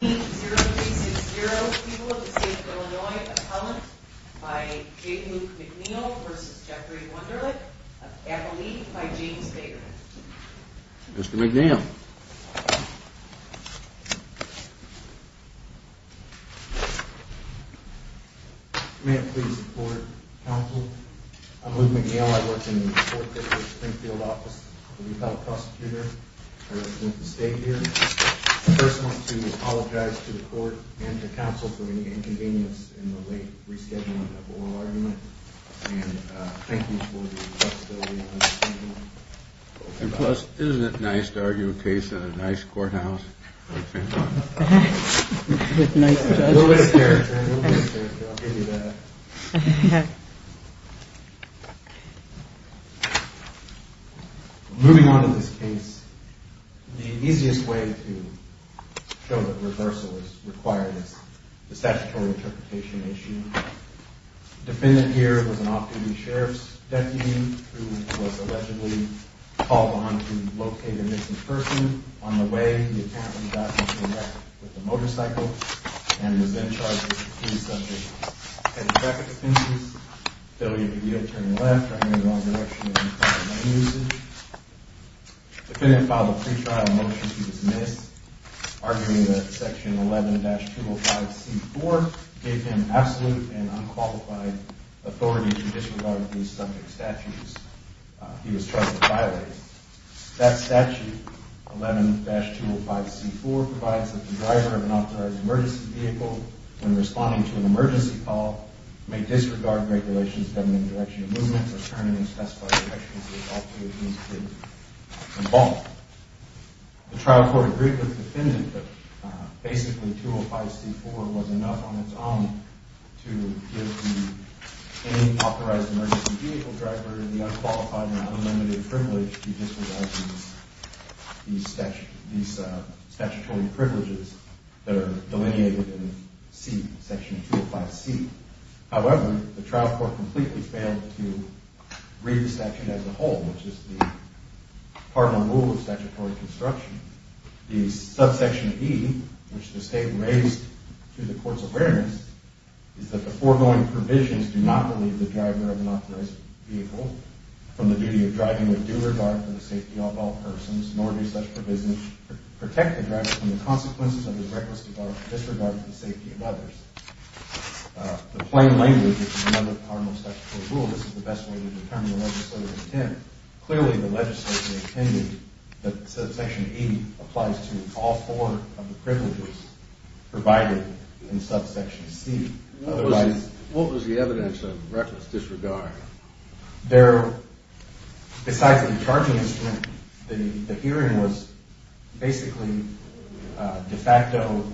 0-3-6-0, people of the state of Illinois, a comment by J. Luke McNeil v. Jeffrey Wunderlich, a family by James Baker. Mr. McNeil. May I please report, counsel? I'm Luke McNeil. I work in the court district Springfield office. I'm a retired prosecutor with the state here. First I want to apologize to the court and to counsel for any inconvenience in the late rescheduling of the oral argument. And thank you for the flexibility. And plus, isn't it nice to argue a case in a nice courthouse? A little bit of character, a little bit of character, I'll give you that. Moving on to this case, the easiest way to show that reversal is required is the statutory interpretation issue. The defendant here was an off-duty sheriff's deputy who was allegedly called on to locate a missing person. On the way, he accidentally got into a wreck with a motorcycle and was then charged with a case of head-to-back offenses, failure to yield, turning left, driving in the wrong direction, and infringing lane usage. The defendant filed a pretrial motion to dismiss, arguing that section 11-205C4 gave him absolute and unqualified authority to disregard these subject statutes he was charged with violating. That statute, 11-205C4, provides that the driver of an authorized emergency vehicle, when responding to an emergency call, may disregard regulations governing the direction of movement or turn in a specified direction as a result of his involvement. The trial court agreed with the defendant that basically 205C4 was enough on its own to give any authorized emergency vehicle driver the unqualified and unlimited privilege to disregard these statutory privileges that are delineated in section 205C. However, the trial court completely failed to read the section as a whole, which is part of the rule of statutory construction. The subsection E, which the State raised to the Court's awareness, is that the foregoing provisions do not relieve the driver of an authorized vehicle from the duty of driving with due regard for the safety of all persons, nor do such provisions protect the driver from the consequences of his reckless disregard for the safety of others. In plain language, which is another part of the statutory rule, this is the best way to determine the legislator's intent. Clearly, the legislator intended that subsection E applies to all four of the privileges provided in subsection C. What was the evidence of reckless disregard? Besides the charging instrument, the hearing was basically de facto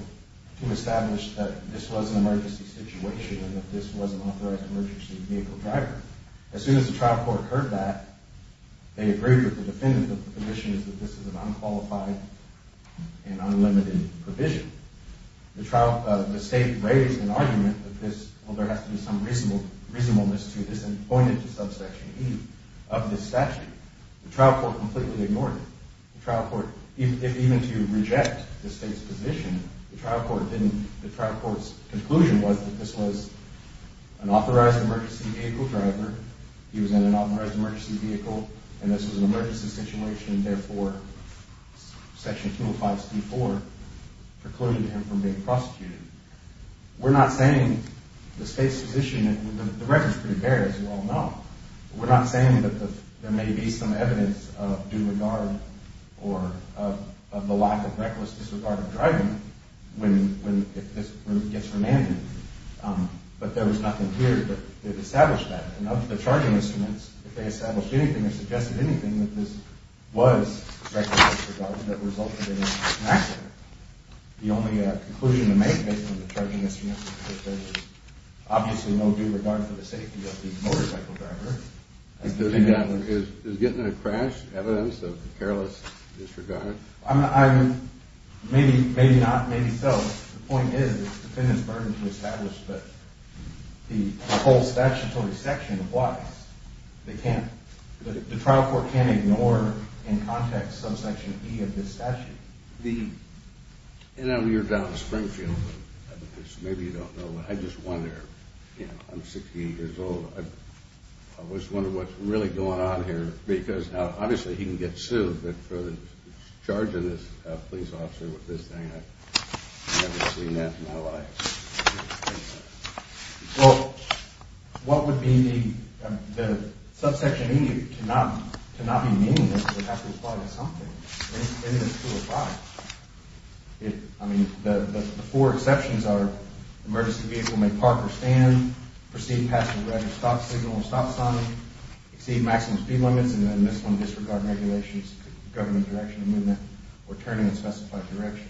to establish that this was an emergency situation and that this was an authorized emergency vehicle driver. As soon as the trial court heard that, they agreed with the defendant that the condition is that this is an unqualified and unlimited provision. The State raised an argument that there has to be some reasonableness to this and pointed to subsection E of this statute. The trial court completely ignored it. Even to reject the State's position, the trial court's conclusion was that this was an authorized emergency vehicle driver. He was in an authorized emergency vehicle, and this was an emergency situation. Therefore, section 205c4 precluded him from being prosecuted. We're not saying the State's position that the record is pretty bare, as you all know. We're not saying that there may be some evidence of due regard or of the lack of reckless disregard of driving when it gets remanded. But there was nothing here that established that. And of the charging instruments, if they established anything or suggested anything that this was reckless disregard that resulted in an accident, the only conclusion to make based on the charging instruments is that there was obviously no due regard for the safety of the motorcycle driver. Is getting in a crash evidence of careless disregard? Maybe not, maybe so. The point is it's the defendant's burden to establish that the whole statutory section applies. The trial court can't ignore in context subsection E of this statute. You're down in Springfield. Maybe you don't know, but I just wonder. I'm 68 years old. I just wonder what's really going on here. Because obviously he can get sued, but for the charge of this police officer with this thing, I've never seen that in my life. Well, what would be the subsection E to not be meaningless? It would have to apply to something in this 205. I mean, the four exceptions are emergency vehicle may park or stand, proceed past the red signal and stop sign, exceed maximum speed limits, and then this one disregard regulations governing direction of movement or turning in specified direction.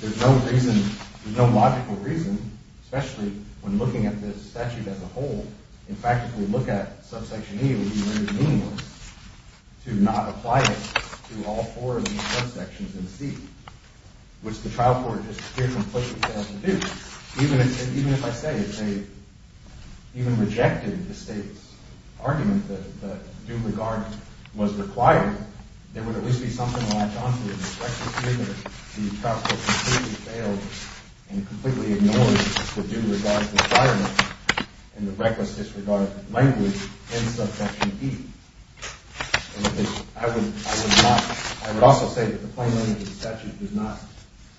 There's no reason, there's no logical reason, especially when looking at this statute as a whole. In fact, if we look at subsection E, it would be very meaningless to not apply it to all four of these subsections in C, which the trial court just completely failed to do. Even if I say they even rejected the state's argument that due regard was required, there would at least be something to latch on to. The trial court completely failed and completely ignored the due regard requirement and the reckless disregard of language in subsection E. I would also say that the plain language of the statute does not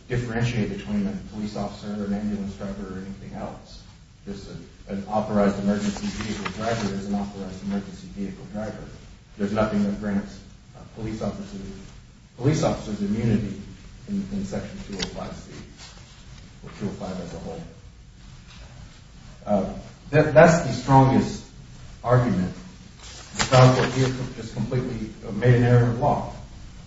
differentiate between a police officer or an ambulance driver or anything else. Just an authorized emergency vehicle driver is an authorized emergency vehicle driver. There's nothing that grants police officers immunity in section 205C or 205 as a whole. That's the strongest argument. The trial court here just completely made an error in the law.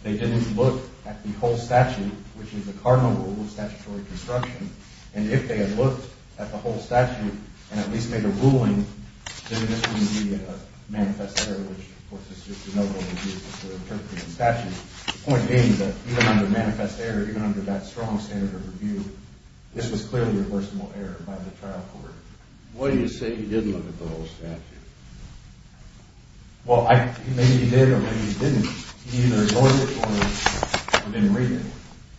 They didn't look at the whole statute, which is a cardinal rule of statutory construction, and if they had looked at the whole statute and at least made a ruling, then this wouldn't be a manifest error, which, of course, is just a no-brainer to interpret the statute. The point being that even under manifest error, even under that strong standard of review, this was clearly a reversible error by the trial court. What do you say he did look at the whole statute? Well, maybe he did or maybe he didn't. He either ignored it or didn't read it.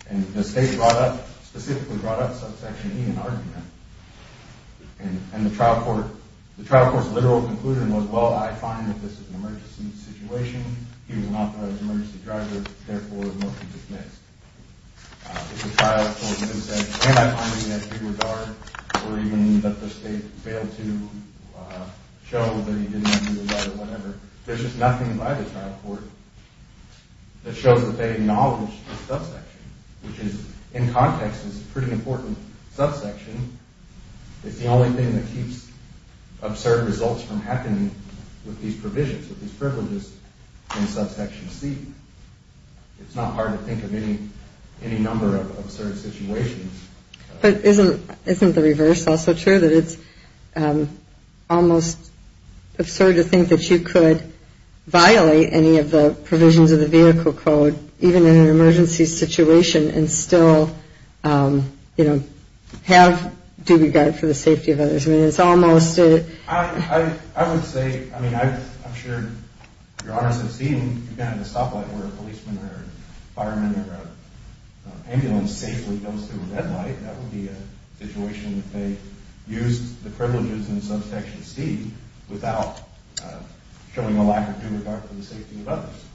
And the state brought up, specifically brought up subsection E in the argument, and the trial court's literal conclusion was, well, I find that this is an emergency situation. He was an authorized emergency driver. Therefore, the motion is dismissed. The trial court didn't say, can I find it in that regard, or even that the state failed to show that he didn't read it or whatever. There's just nothing by the trial court that shows that they acknowledged the subsection, which is, in context, is a pretty important subsection. It's the only thing that keeps absurd results from happening with these provisions, with these privileges in subsection C. It's not hard to think of any number of absurd situations. But isn't the reverse also true, that it's almost absurd to think that you could violate any of the provisions of the vehicle code, even in an emergency situation, and still, you know, have due regard for the safety of others? I mean, it's almost a... I would say, I mean, I'm sure Your Honors have seen kind of the stoplight where a policeman or a fireman or an ambulance safely goes through a red light. That would be a situation if they used the privileges in subsection C without showing a lack of due regard for the safety of others.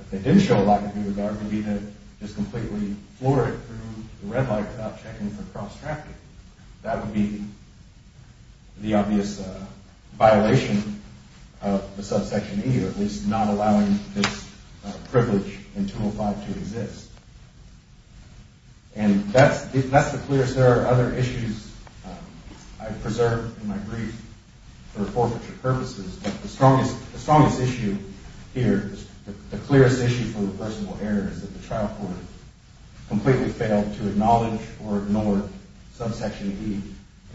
If they did show a lack of due regard, it would be to just completely floor it through the red light without checking for cross-trafficking. That would be the obvious violation of the subsection E, or at least not allowing this privilege in 205 to exist. And that's the clearest. There are other issues I've preserved in my brief for forfeiture purposes. But the strongest issue here, the clearest issue for reversible error, is that the trial court completely failed to acknowledge or ignore subsection E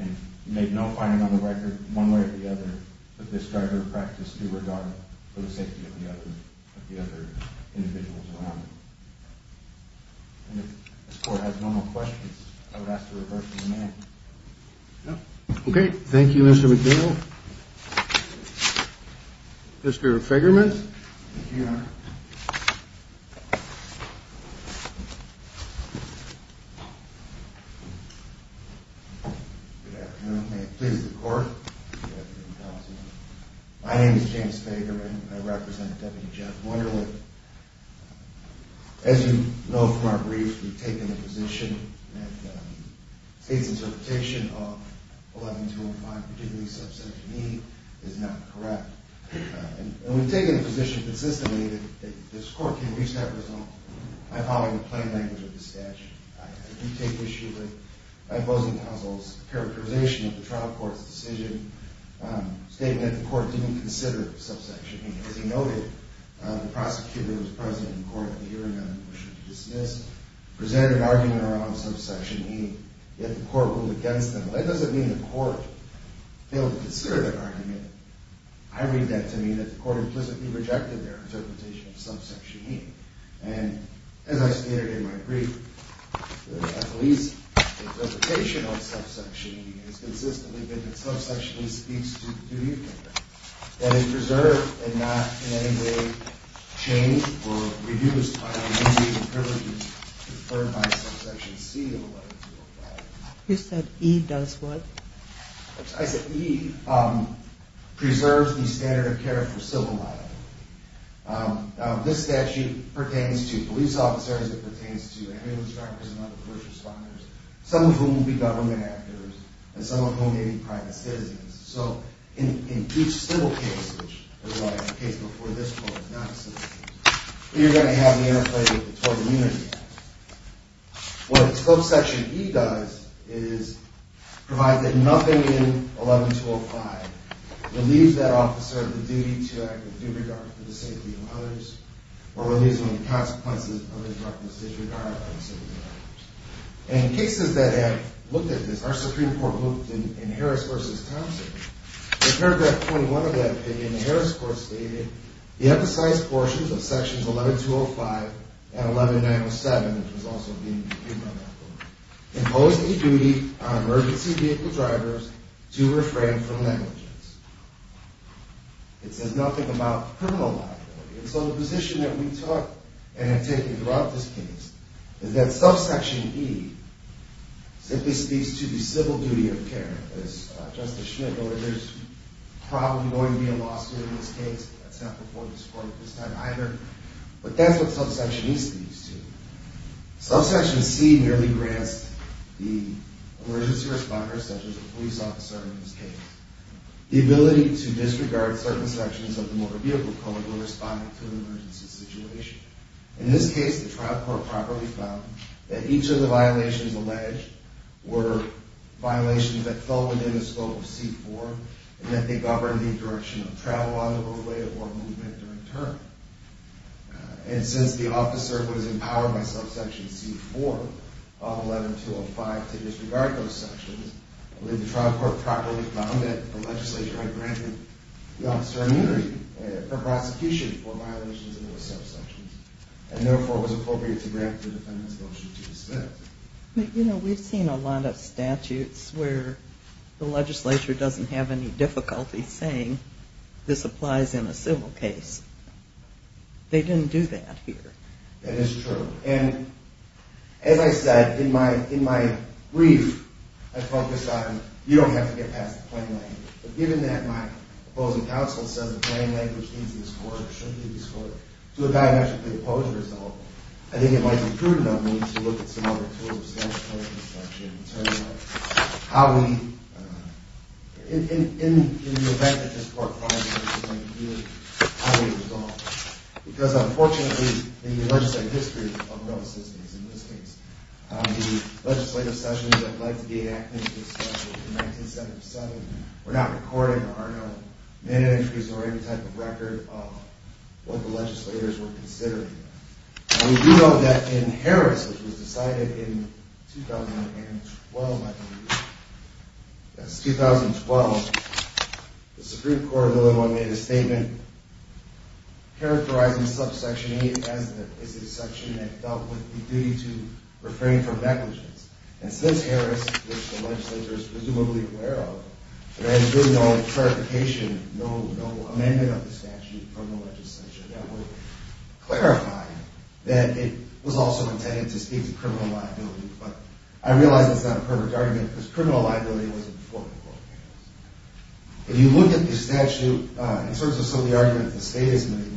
and made no finding on the record, one way or the other, that this driver practiced due regard for the safety of the other individuals around him. And if this Court has no more questions, I would ask to reverse the amendment. Okay. Thank you, Mr. McNeil. Mr. Fegerman? Thank you, Your Honor. Good afternoon. Please, the Court. Good afternoon, counsel. My name is James Fegerman. I represent Deputy Jeff Wunderlich. As you know from our brief, we've taken the position that the state's interpretation of 11205, particularly subsection E, is not correct. And we've taken the position consistently that this Court can reach that result by following the plain language of the statute. I do take issue with my opposing counsel's characterization of the trial court's decision, stating that the Court didn't consider subsection E. As he noted, the prosecutor who was present in court at the hearing on the motion to dismiss presented an argument around subsection E, yet the Court ruled against them. That doesn't mean the Court failed to consider that argument. I read that to mean that the Court implicitly rejected their interpretation of subsection E. And as I stated in my brief, at least the interpretation of subsection E has consistently been that subsection E speaks to the duty of care, that it preserved and not in any way changed or reduced by immediate privileges conferred by subsection C in the light of civil liability. You said E does what? I said E preserves the standard of care for civil liability. This statute pertains to police officers. It pertains to ambulance drivers and other first responders, some of whom will be government actors and some of whom may be private citizens. So in each civil case, which is why the case before this Court is not a civil case, you're going to have the interplay of the 12 immunity acts. What subsection E does is provide that nothing in 11205 relieves that officer of the duty to act with due regard for the safety of others, or relieves them of the consequences of his reckless disregard for the safety of others. In cases that have looked at this, our Supreme Court looked in Harris v. Thompson. In paragraph 21 of that opinion, the Harris Court stated, the emphasized portions of sections 11205 and 11907, which was also being reviewed by that Court, impose a duty on emergency vehicle drivers to refrain from negligence. It says nothing about criminal liability. And so the position that we took, and have taken throughout this case, is that subsection E simply speaks to the civil duty of care. As Justice Schmidt noted, there's probably going to be a lawsuit in this case. That's not before this Court at this time either. But that's what subsection E speaks to. Subsection C merely grants the emergency responders, such as the police officer in this case, the ability to disregard certain sections of the motor vehicle code when responding to an emergency situation. In this case, the trial court properly found that each of the violations alleged were violations that fell within the scope of C-4, and that they governed the direction of travel on the roadway or movement during turn. And since the officer was empowered by subsection C-4 of 11205 to disregard those sections, I believe the trial court properly found that the legislature had granted the officer immunity for prosecution for violations in those subsections, and therefore it was appropriate to grant the defendant's motion to dismiss. But, you know, we've seen a lot of statutes where the legislature doesn't have any difficulty saying this applies in a civil case. They didn't do that here. That is true. And, as I said, in my brief, I focus on you don't have to get past the plain language. But given that my opposing counsel says the plain language needs to be scored or should be scored to a diametrically opposed result, I think it might be prudent of me to look at some other tools of statutory dissection in terms of how we, in the event that this court finally decides to do it, how we resolve it. Because, unfortunately, in the legislative history of those systems, in this case, the legislative sessions that led to the enactment of this statute in 1977 were not recorded, there are no minute entries or any type of record of what the legislators were considering. And we do know that in Harris, which was decided in 2012, I believe, that was 2012, the Supreme Court of Illinois made a statement characterizing subsection 8 as the section that dealt with the duty to refrain from negligence. And since Harris, which the legislature is presumably aware of, there has been no clarification, no amendment of the statute from the legislature that would clarify that it was also intended to speak to criminal liability. But I realize it's not a perfect argument, because criminal liability wasn't before the court. If you look at the statute, in terms of some of the arguments the state has made,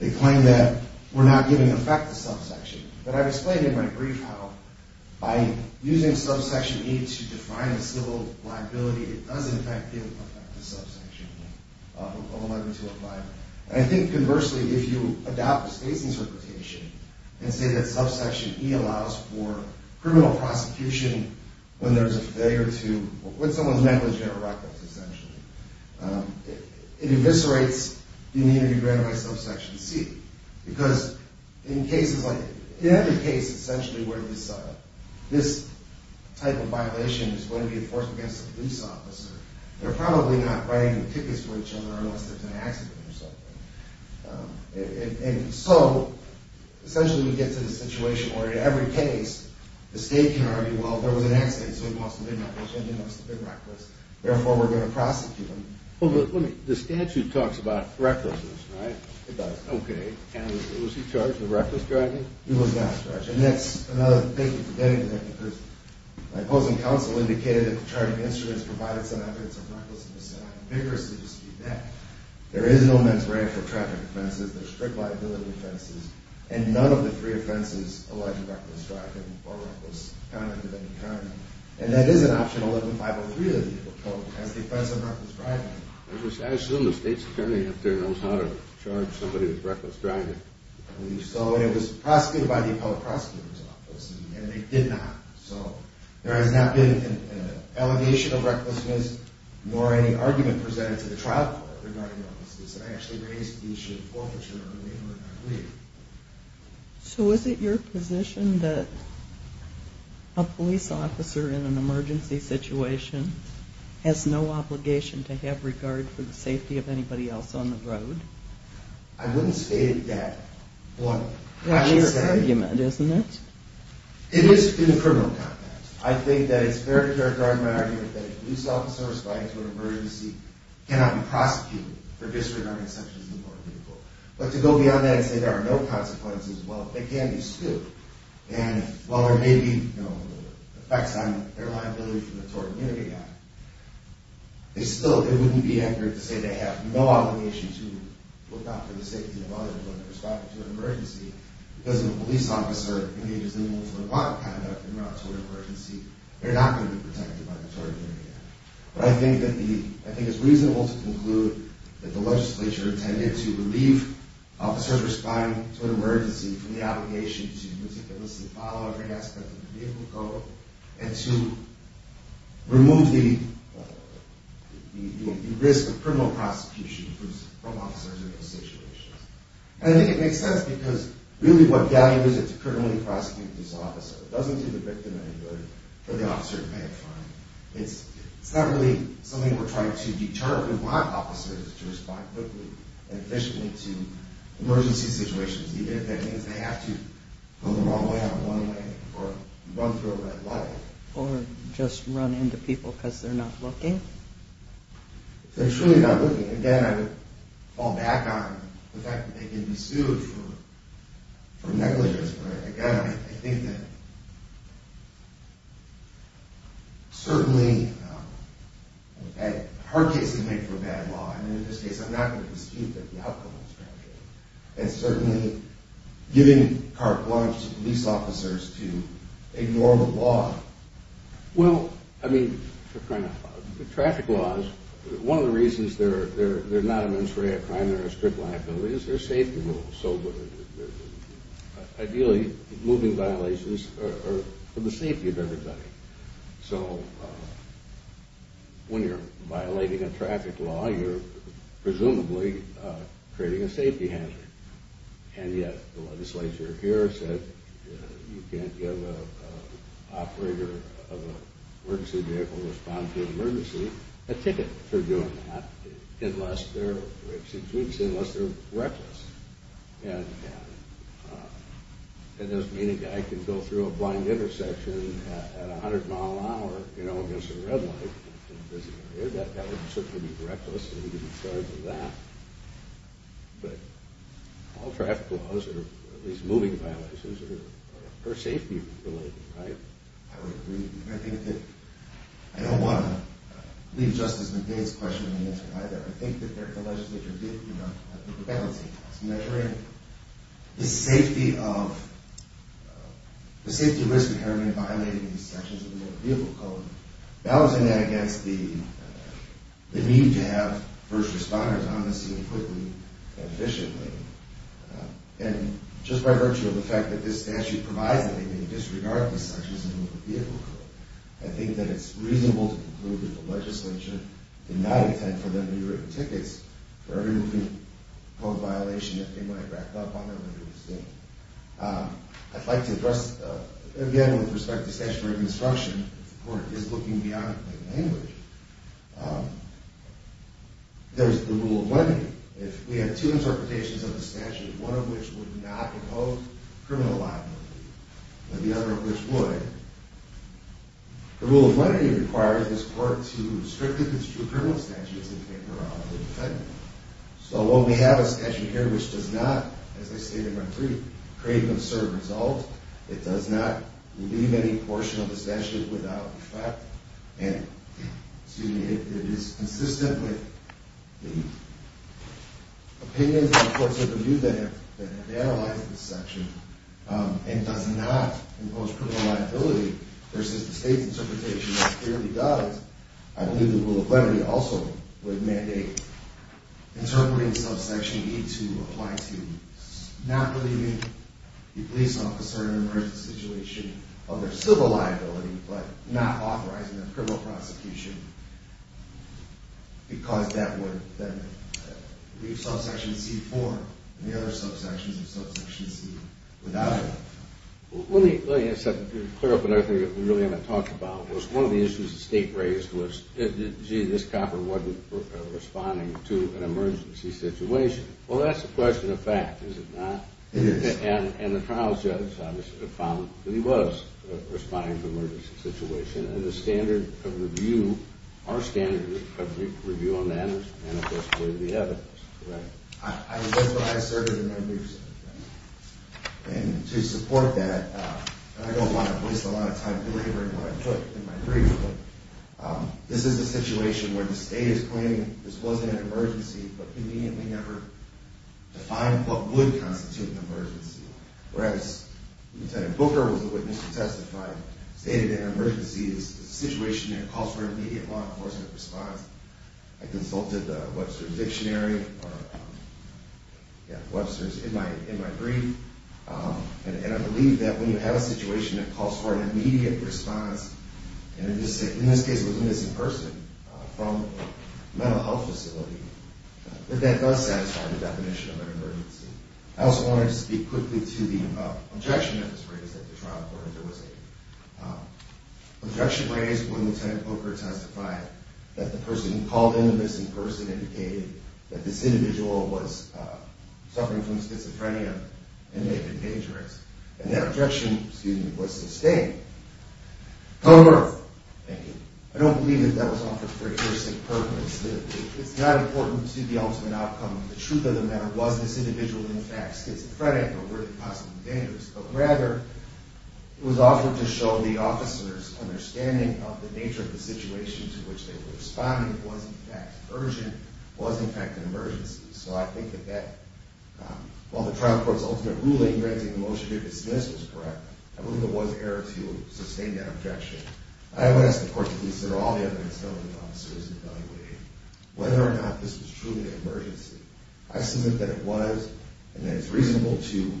they claim that we're not giving effect to subsection. But I've explained in my brief how, by using subsection 8 to define a civil liability, it does, in fact, give effect to subsection 11205. And I think, conversely, if you adopt the state's interpretation and say that subsection E allows for criminal prosecution when there's a failure to, when someone's negligent or reckless, essentially, it eviscerates the immunity granted by subsection C. Because in other cases, essentially, where this type of violation is going to be enforced against a police officer, they're probably not writing the tickets for each other unless there's an accident or something. And so, essentially, we get to the situation where, in every case, the state can argue, well, there was an accident, so he must have been negligent, he must have been reckless, therefore, we're going to prosecute him. Well, the statute talks about recklessness, right? It does. Okay. And was he charged with reckless driving? He was not charged. And that's another thing. My opposing counsel indicated that the charging instruments provided some evidence of recklessness, and I vigorously dispute that. There is no mens rea for traffic offenses. There's strict liability offenses. And none of the three offenses allege reckless driving or reckless conduct of any kind. And that is an option 11-503 of the appeal code, as the offense of reckless driving. I assume the state's attorney up there knows how to charge somebody with reckless driving. I believe so, and it was prosecuted by the appellate prosecutor's office, and they did not. So there has not been an allegation of recklessness, nor any argument presented to the trial court. I actually raised the issue of forfeiture earlier. So is it your position that a police officer in an emergency situation has no obligation to have regard for the safety of anybody else on the road? I wouldn't say that. That is the argument, isn't it? It is in a criminal context. I think that it's fair to characterize my argument that a police officer responding to an emergency cannot be prosecuted for disregarding sections of the court of legal. But to go beyond that and say there are no consequences, well, they can be sued. And while there may be effects on their liability for the tort immunity act, they still wouldn't be angered to say they have no obligation to look out for the safety of others when they're responding to an emergency because if a police officer engages in involuntary violent conduct in a tort emergency, they're not going to be protected by the tort immunity act. But I think it's reasonable to conclude that the legislature intended to relieve officers responding to an emergency from the obligation to meticulously follow every aspect of the vehicle code and to remove the risk of criminal prosecution from officers in those situations. And I think it makes sense because really what value is it to criminally prosecute these officers? It doesn't do the victim any good, but the officer can pay a fine. It's not really something we're trying to deter. We want officers to respond quickly and efficiently to emergency situations, even if that means they have to go the wrong way on one way or run through a red light. Or just run into people because they're not looking? If they're truly not looking. Again, I would fall back on the fact that they can be sued for negligence. But again, I think that certainly a hard case to make for a bad law, and in this case I'm not going to dispute that the outcome is fragile. And certainly giving carte blanche to police officers to ignore the law. Well, I mean, traffic laws, one of the reasons they're not a ministry of crime or a strict liability is their safety rules. Ideally, moving violations are for the safety of everybody. So when you're violating a traffic law, you're presumably creating a safety hazard. And yet, the legislature here said you can't give an operator of an emergency vehicle to respond to an emergency a ticket for doing that unless they're reckless. It doesn't mean a guy can go through a blind intersection at 100 mile an hour against a red light in a busy area. That would certainly be reckless, and he'd be charged with that. All traffic laws, or at least moving violations, are for safety-related, right? I would agree. I think that I don't want to leave Justice McDade's question unanswered either. I think that the legislature did, you know, have to balance it. It's measuring the safety of, the safety risk inherent in violating these sections of the motor vehicle code, balancing that against the need to have first responders on the scene quickly and efficiently. And just by virtue of the fact that this statute provides that they may disregard these sections of the motor vehicle code, I think that it's reasonable to conclude that the legislature did not intend for there to be written tickets for every moving code violation that they might rack up on their motor vehicle. I'd like to address, again, with respect to statutory obstruction, if the court is looking beyond plain language, there's the rule of lenity. If we have two interpretations of the statute, one of which would not impose criminal liability, but the other of which would, the rule of lenity requires this court to strictly construe criminal statutes and take her on as a defendant. So while we have a statute here which does not, as I stated on three, create an absurd result, it does not leave any portion of the statute without effect, and it is consistent with the opinions of the courts of review that have analyzed this section, and does not impose criminal liability, versus the state's interpretation that clearly does, I believe the rule of lenity also would mandate interpreting subsection E to apply to not relieving the police officer in an emergency situation of their civil liability, but not authorizing their criminal prosecution, because that would then leave subsection C4 and the other subsections of subsection C without effect. Let me clear up another thing that we really haven't talked about. One of the issues the state raised was, gee, this copper wasn't responding to an emergency situation. Well, that's a question of fact, is it not? It is. And the trial judge obviously found that he was responding to an emergency situation, and the standard of review, our standard of review on that is manifestly the evidence, correct? That's what I asserted in my briefs, and to support that, I don't want to waste a lot of time delivering what I put in my brief, but this is a situation where the state is claiming this wasn't an emergency, but conveniently never defined what would constitute an emergency. Whereas Lieutenant Booker was the witness who testified, stated that an emergency is a situation that calls for an immediate law enforcement response. I consulted Webster's dictionary, Webster's in my brief, and I believe that when you have a situation that calls for an immediate response, and in this case it was a missing person from a mental health facility, that that does satisfy the definition of an emergency. I also wanted to speak quickly to the objection that was raised at the trial court. There was an objection raised when Lieutenant Booker testified that the person who called in the missing person indicated that this individual was suffering from schizophrenia and may have been dangerous, and that objection was sustained. I don't believe that that was offered for a heuristic purpose. It's not important to see the ultimate outcome of the truth of the matter, was this individual in fact schizophrenic or were they possibly dangerous, but rather it was offered to show the officers' understanding of the nature of the situation to which they were responding, was in fact urgent, was in fact an emergency. So I think that that, while the trial court's ultimate ruling granting the motion to dismiss was correct, I believe there was error to sustain that objection. I would ask the court to consider all the evidence held by the officers in evaluating whether or not this was truly an emergency. I suspect that it was and that it's reasonable to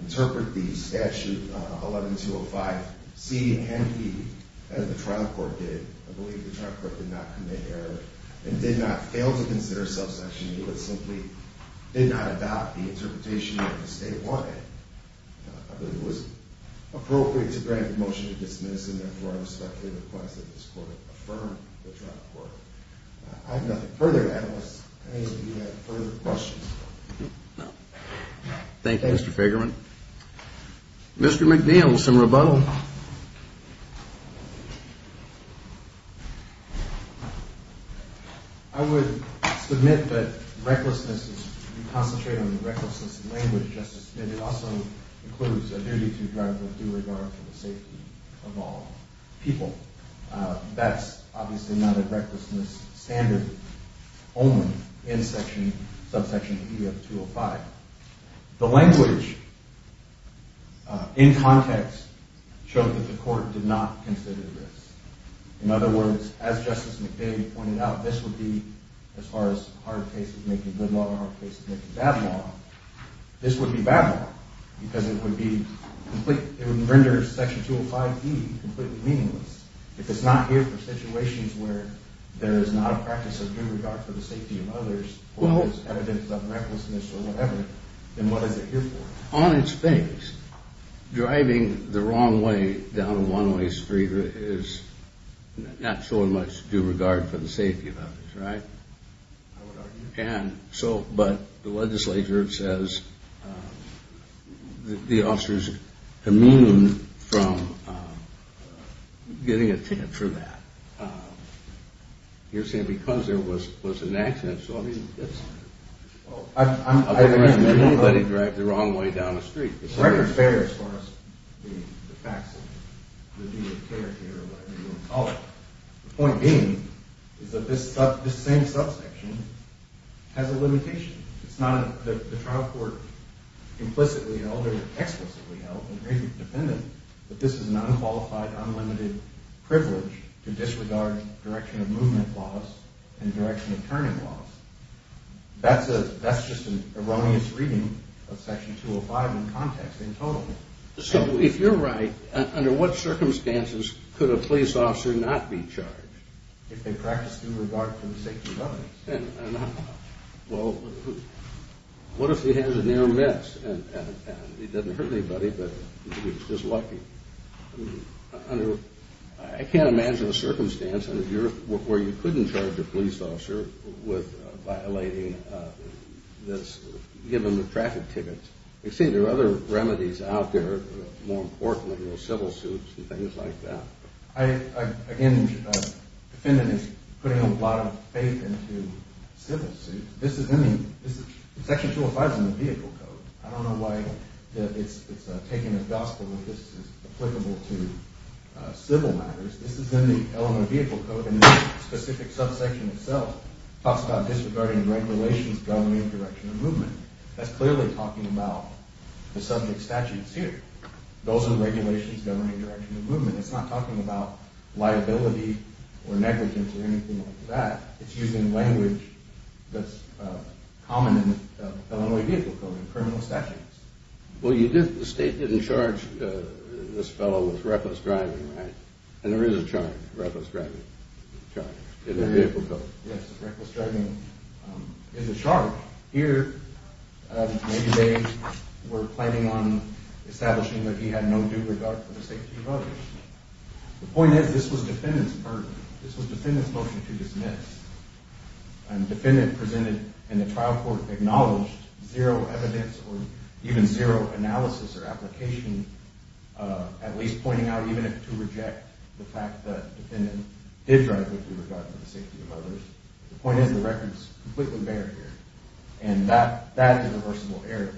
interpret the statute 11-205C and E as the trial court did. I believe the trial court did not commit error and did not fail to consider self-sanctioning. It simply did not adopt the interpretation that the state wanted. I believe it was appropriate to grant the motion to dismiss, and therefore I respectfully request that this court affirm the trial court. I have nothing further to add unless any of you have further questions. Thank you, Mr. Figerman. Mr. McNeil, some rebuttal. I would submit that recklessness, as we concentrate on the recklessness of language, Justice Smith, it also includes a duty to drive with due regard for the safety of all people. That's obviously not a recklessness standard only in section, subsection E of 205. The language in context shows that the court did not consider this. In other words, as Justice McNeil pointed out, this would be, as far as hard cases making good law or hard cases making bad law, this would be bad law because it would render section 205E completely meaningless. If it's not here for situations where there is not a practice of due regard for the safety of others, or there's evidence of recklessness or whatever, then what is it here for? On its face, driving the wrong way down a one-way street is not so much due regard for the safety of others, right? I would argue. But the legislature says the officers commune from getting a ticket for that. You're saying because there was an accident, so I mean, that's... I don't think anybody would drive the wrong way down a street. The record bears for us the facts of the duty of care here, or whatever you want to call it. The point being is that this same subsection has a limitation. It's not that the trial court implicitly held or explicitly held, and very dependent, that this is an unqualified, unlimited privilege to disregard direction of movement laws and direction of turning laws. That's just an erroneous reading of section 205 in context, in total. So if you're right, under what circumstances could a police officer not be charged? If they practiced due regard for the safety of others. Well, what if he has a near-miss and he doesn't hurt anybody, but he was just lucky? I can't imagine a circumstance where you couldn't charge a police officer with violating this, given the traffic tickets. You see, there are other remedies out there, more importantly, civil suits and things like that. Again, the defendant is putting a lot of faith into civil suits. Section 205 is in the vehicle code. I don't know why it's taken as gospel that this is applicable to civil matters. This is in the element of vehicle code, and the specific subsection itself talks about disregarding regulations governing direction of movement. That's clearly talking about the subject statutes here. Those are regulations governing direction of movement. It's not talking about liability or negligence or anything like that. It's using language that's common in Illinois vehicle code, in criminal statutes. Well, the state didn't charge this fellow with reckless driving, right? And there is a charge, reckless driving charge, in the vehicle code. Yes, reckless driving is a charge. Here, maybe they were planning on establishing that he had no due regard for the safety of others. The point is, this was the defendant's motion to dismiss. And the defendant presented in the trial court acknowledged zero evidence or even zero analysis or application, at least pointing out even to reject the fact that the defendant did drive with due regard for the safety of others. The point is, the record is completely bare here. And that is a reversible error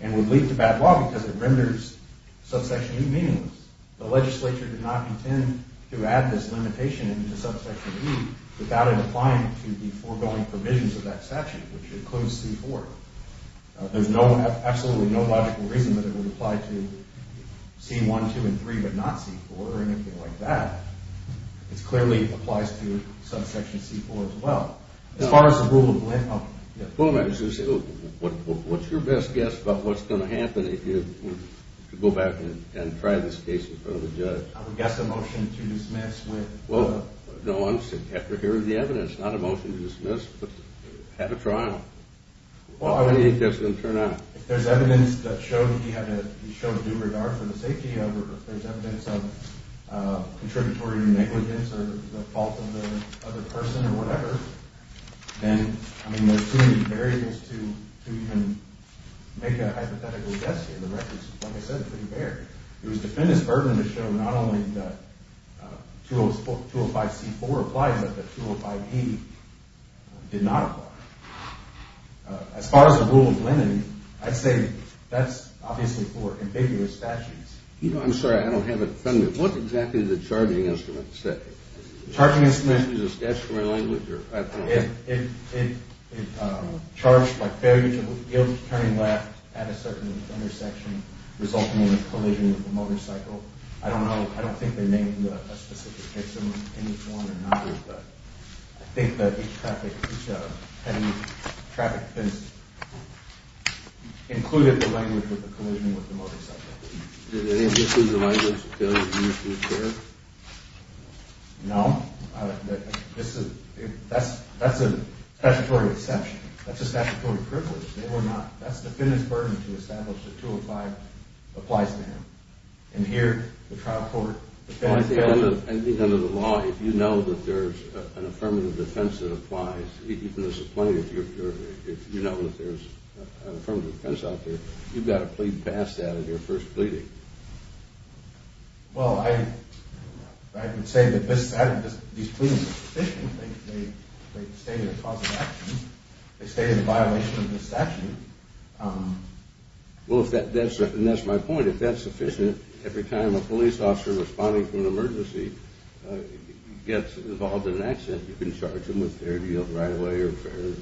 and would lead to bad law because it renders subsection E meaningless. The legislature did not intend to add this limitation into subsection E without it applying to the foregoing provisions of that statute, which includes C-4. There's absolutely no logical reason that it would apply to C-1, 2, and 3 but not C-4 or anything like that. It clearly applies to subsection C-4 as well. As far as the rule of blame, I'll... Well, what's your best guess about what's going to happen if you go back and try this case in front of the judge? I would guess a motion to dismiss with... Well, no, I'm saying after hearing the evidence, not a motion to dismiss, but have a trial. How many of you think this is going to turn out? If there's evidence that showed he had to show due regard for the safety of others, if there's evidence of contributory negligence or the fault of the other person or whatever, then, I mean, there's too many variables to even make a hypothetical guess here. The record is, like I said, pretty bare. It was the defendant's burden to show not only that 205C-4 applied, but that 205E did not apply. As far as the rule of linen, I'd say that's obviously for ambiguous statutes. I'm sorry, I don't have it. What exactly did the charging instrument say? Charging instrument? Is it a statutory language? It charged by failure to yield to turning left at a certain intersection resulting in a collision with a motorcycle. I don't know. I don't think they named a specific victim in this one or another, but I think that each traffic offense included the language of the collision with the motorcycle. Did they include the language of failure to yield to a turn? No. That's a statutory exception. That's a statutory privilege. They were not—that's the defendant's burden to establish that 205 applies to him. And here, the trial court— I think under the law, if you know that there's an affirmative defense that applies, even if there's a plaintiff, if you know that there's an affirmative defense out there, you've got to plead past that in your first pleading. Well, I would say that these pleadings are sufficient. They state a cause of action. They state a violation of this action. Well, and that's my point. If that's sufficient, every time a police officer responding to an emergency gets involved in an accident, you can charge him with failure to yield right away or failure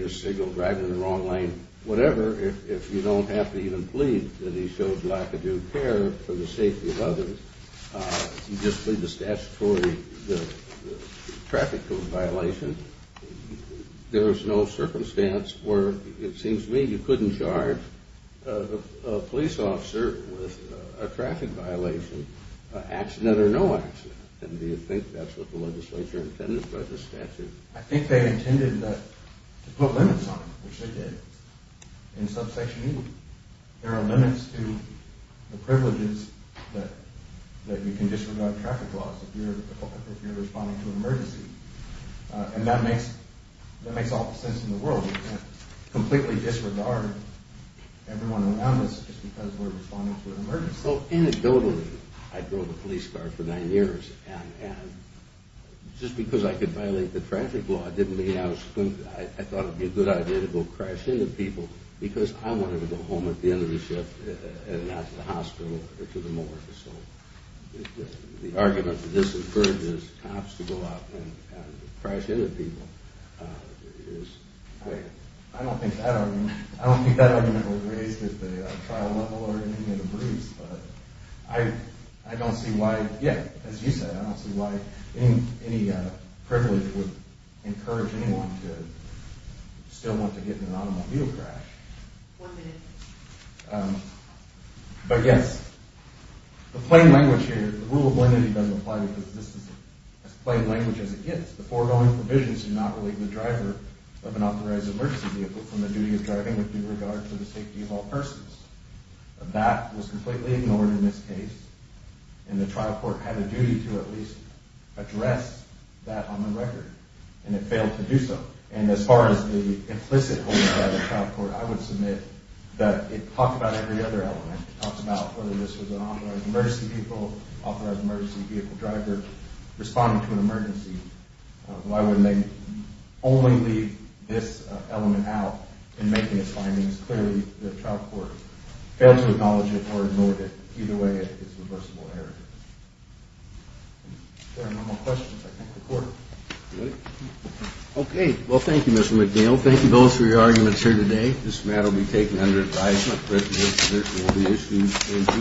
to signal, driving in the wrong lane, whatever, if you don't have to even plead that he shows lack of due care for the safety of others. You just plead the statutory traffic code violation. There is no circumstance where, it seems to me, you couldn't charge a police officer with a traffic violation, accident or no accident. And do you think that's what the legislature intended by this statute? I think they intended to put limits on it, which they did, in subsection E. There are limits to the privileges that you can disregard traffic laws if you're responding to an emergency. And that makes all the sense in the world. You can't completely disregard everyone around us just because we're responding to an emergency. So anecdotally, I drove a police car for nine years, and just because I could violate the traffic law didn't mean I thought it would be a good idea to go crash into people because I wanted to go home at the end of the shift and not to the hospital or to the morgue. So the argument that this incurs is perhaps to go out and crash into people. I don't think that argument was raised at the trial level or in any of the briefs. But I don't see why, yeah, as you said, I don't see why any privilege would encourage anyone to still want to get in an automobile crash. But yes, the plain language here, the rule of limiting doesn't apply because this is as plain language as it gets. The foregoing provisions do not relate the driver of an authorized emergency vehicle from the duty of driving with due regard to the safety of all persons. That was completely ignored in this case, and the trial court had a duty to at least address that on the record, and it failed to do so. And as far as the implicit holding by the trial court, I would submit that it talked about every other element. It talked about whether this was an authorized emergency vehicle, authorized emergency vehicle driver responding to an emergency. Why wouldn't they only leave this element out in making its findings? Clearly, the trial court failed to acknowledge it or ignore it. Either way, it's reversible error. If there are no more questions, I can close the court. Okay. Well, thank you, Mr. McNeil. Thank you both for your arguments here today. This matter will be taken under advisement. The resolution will be issued in due course.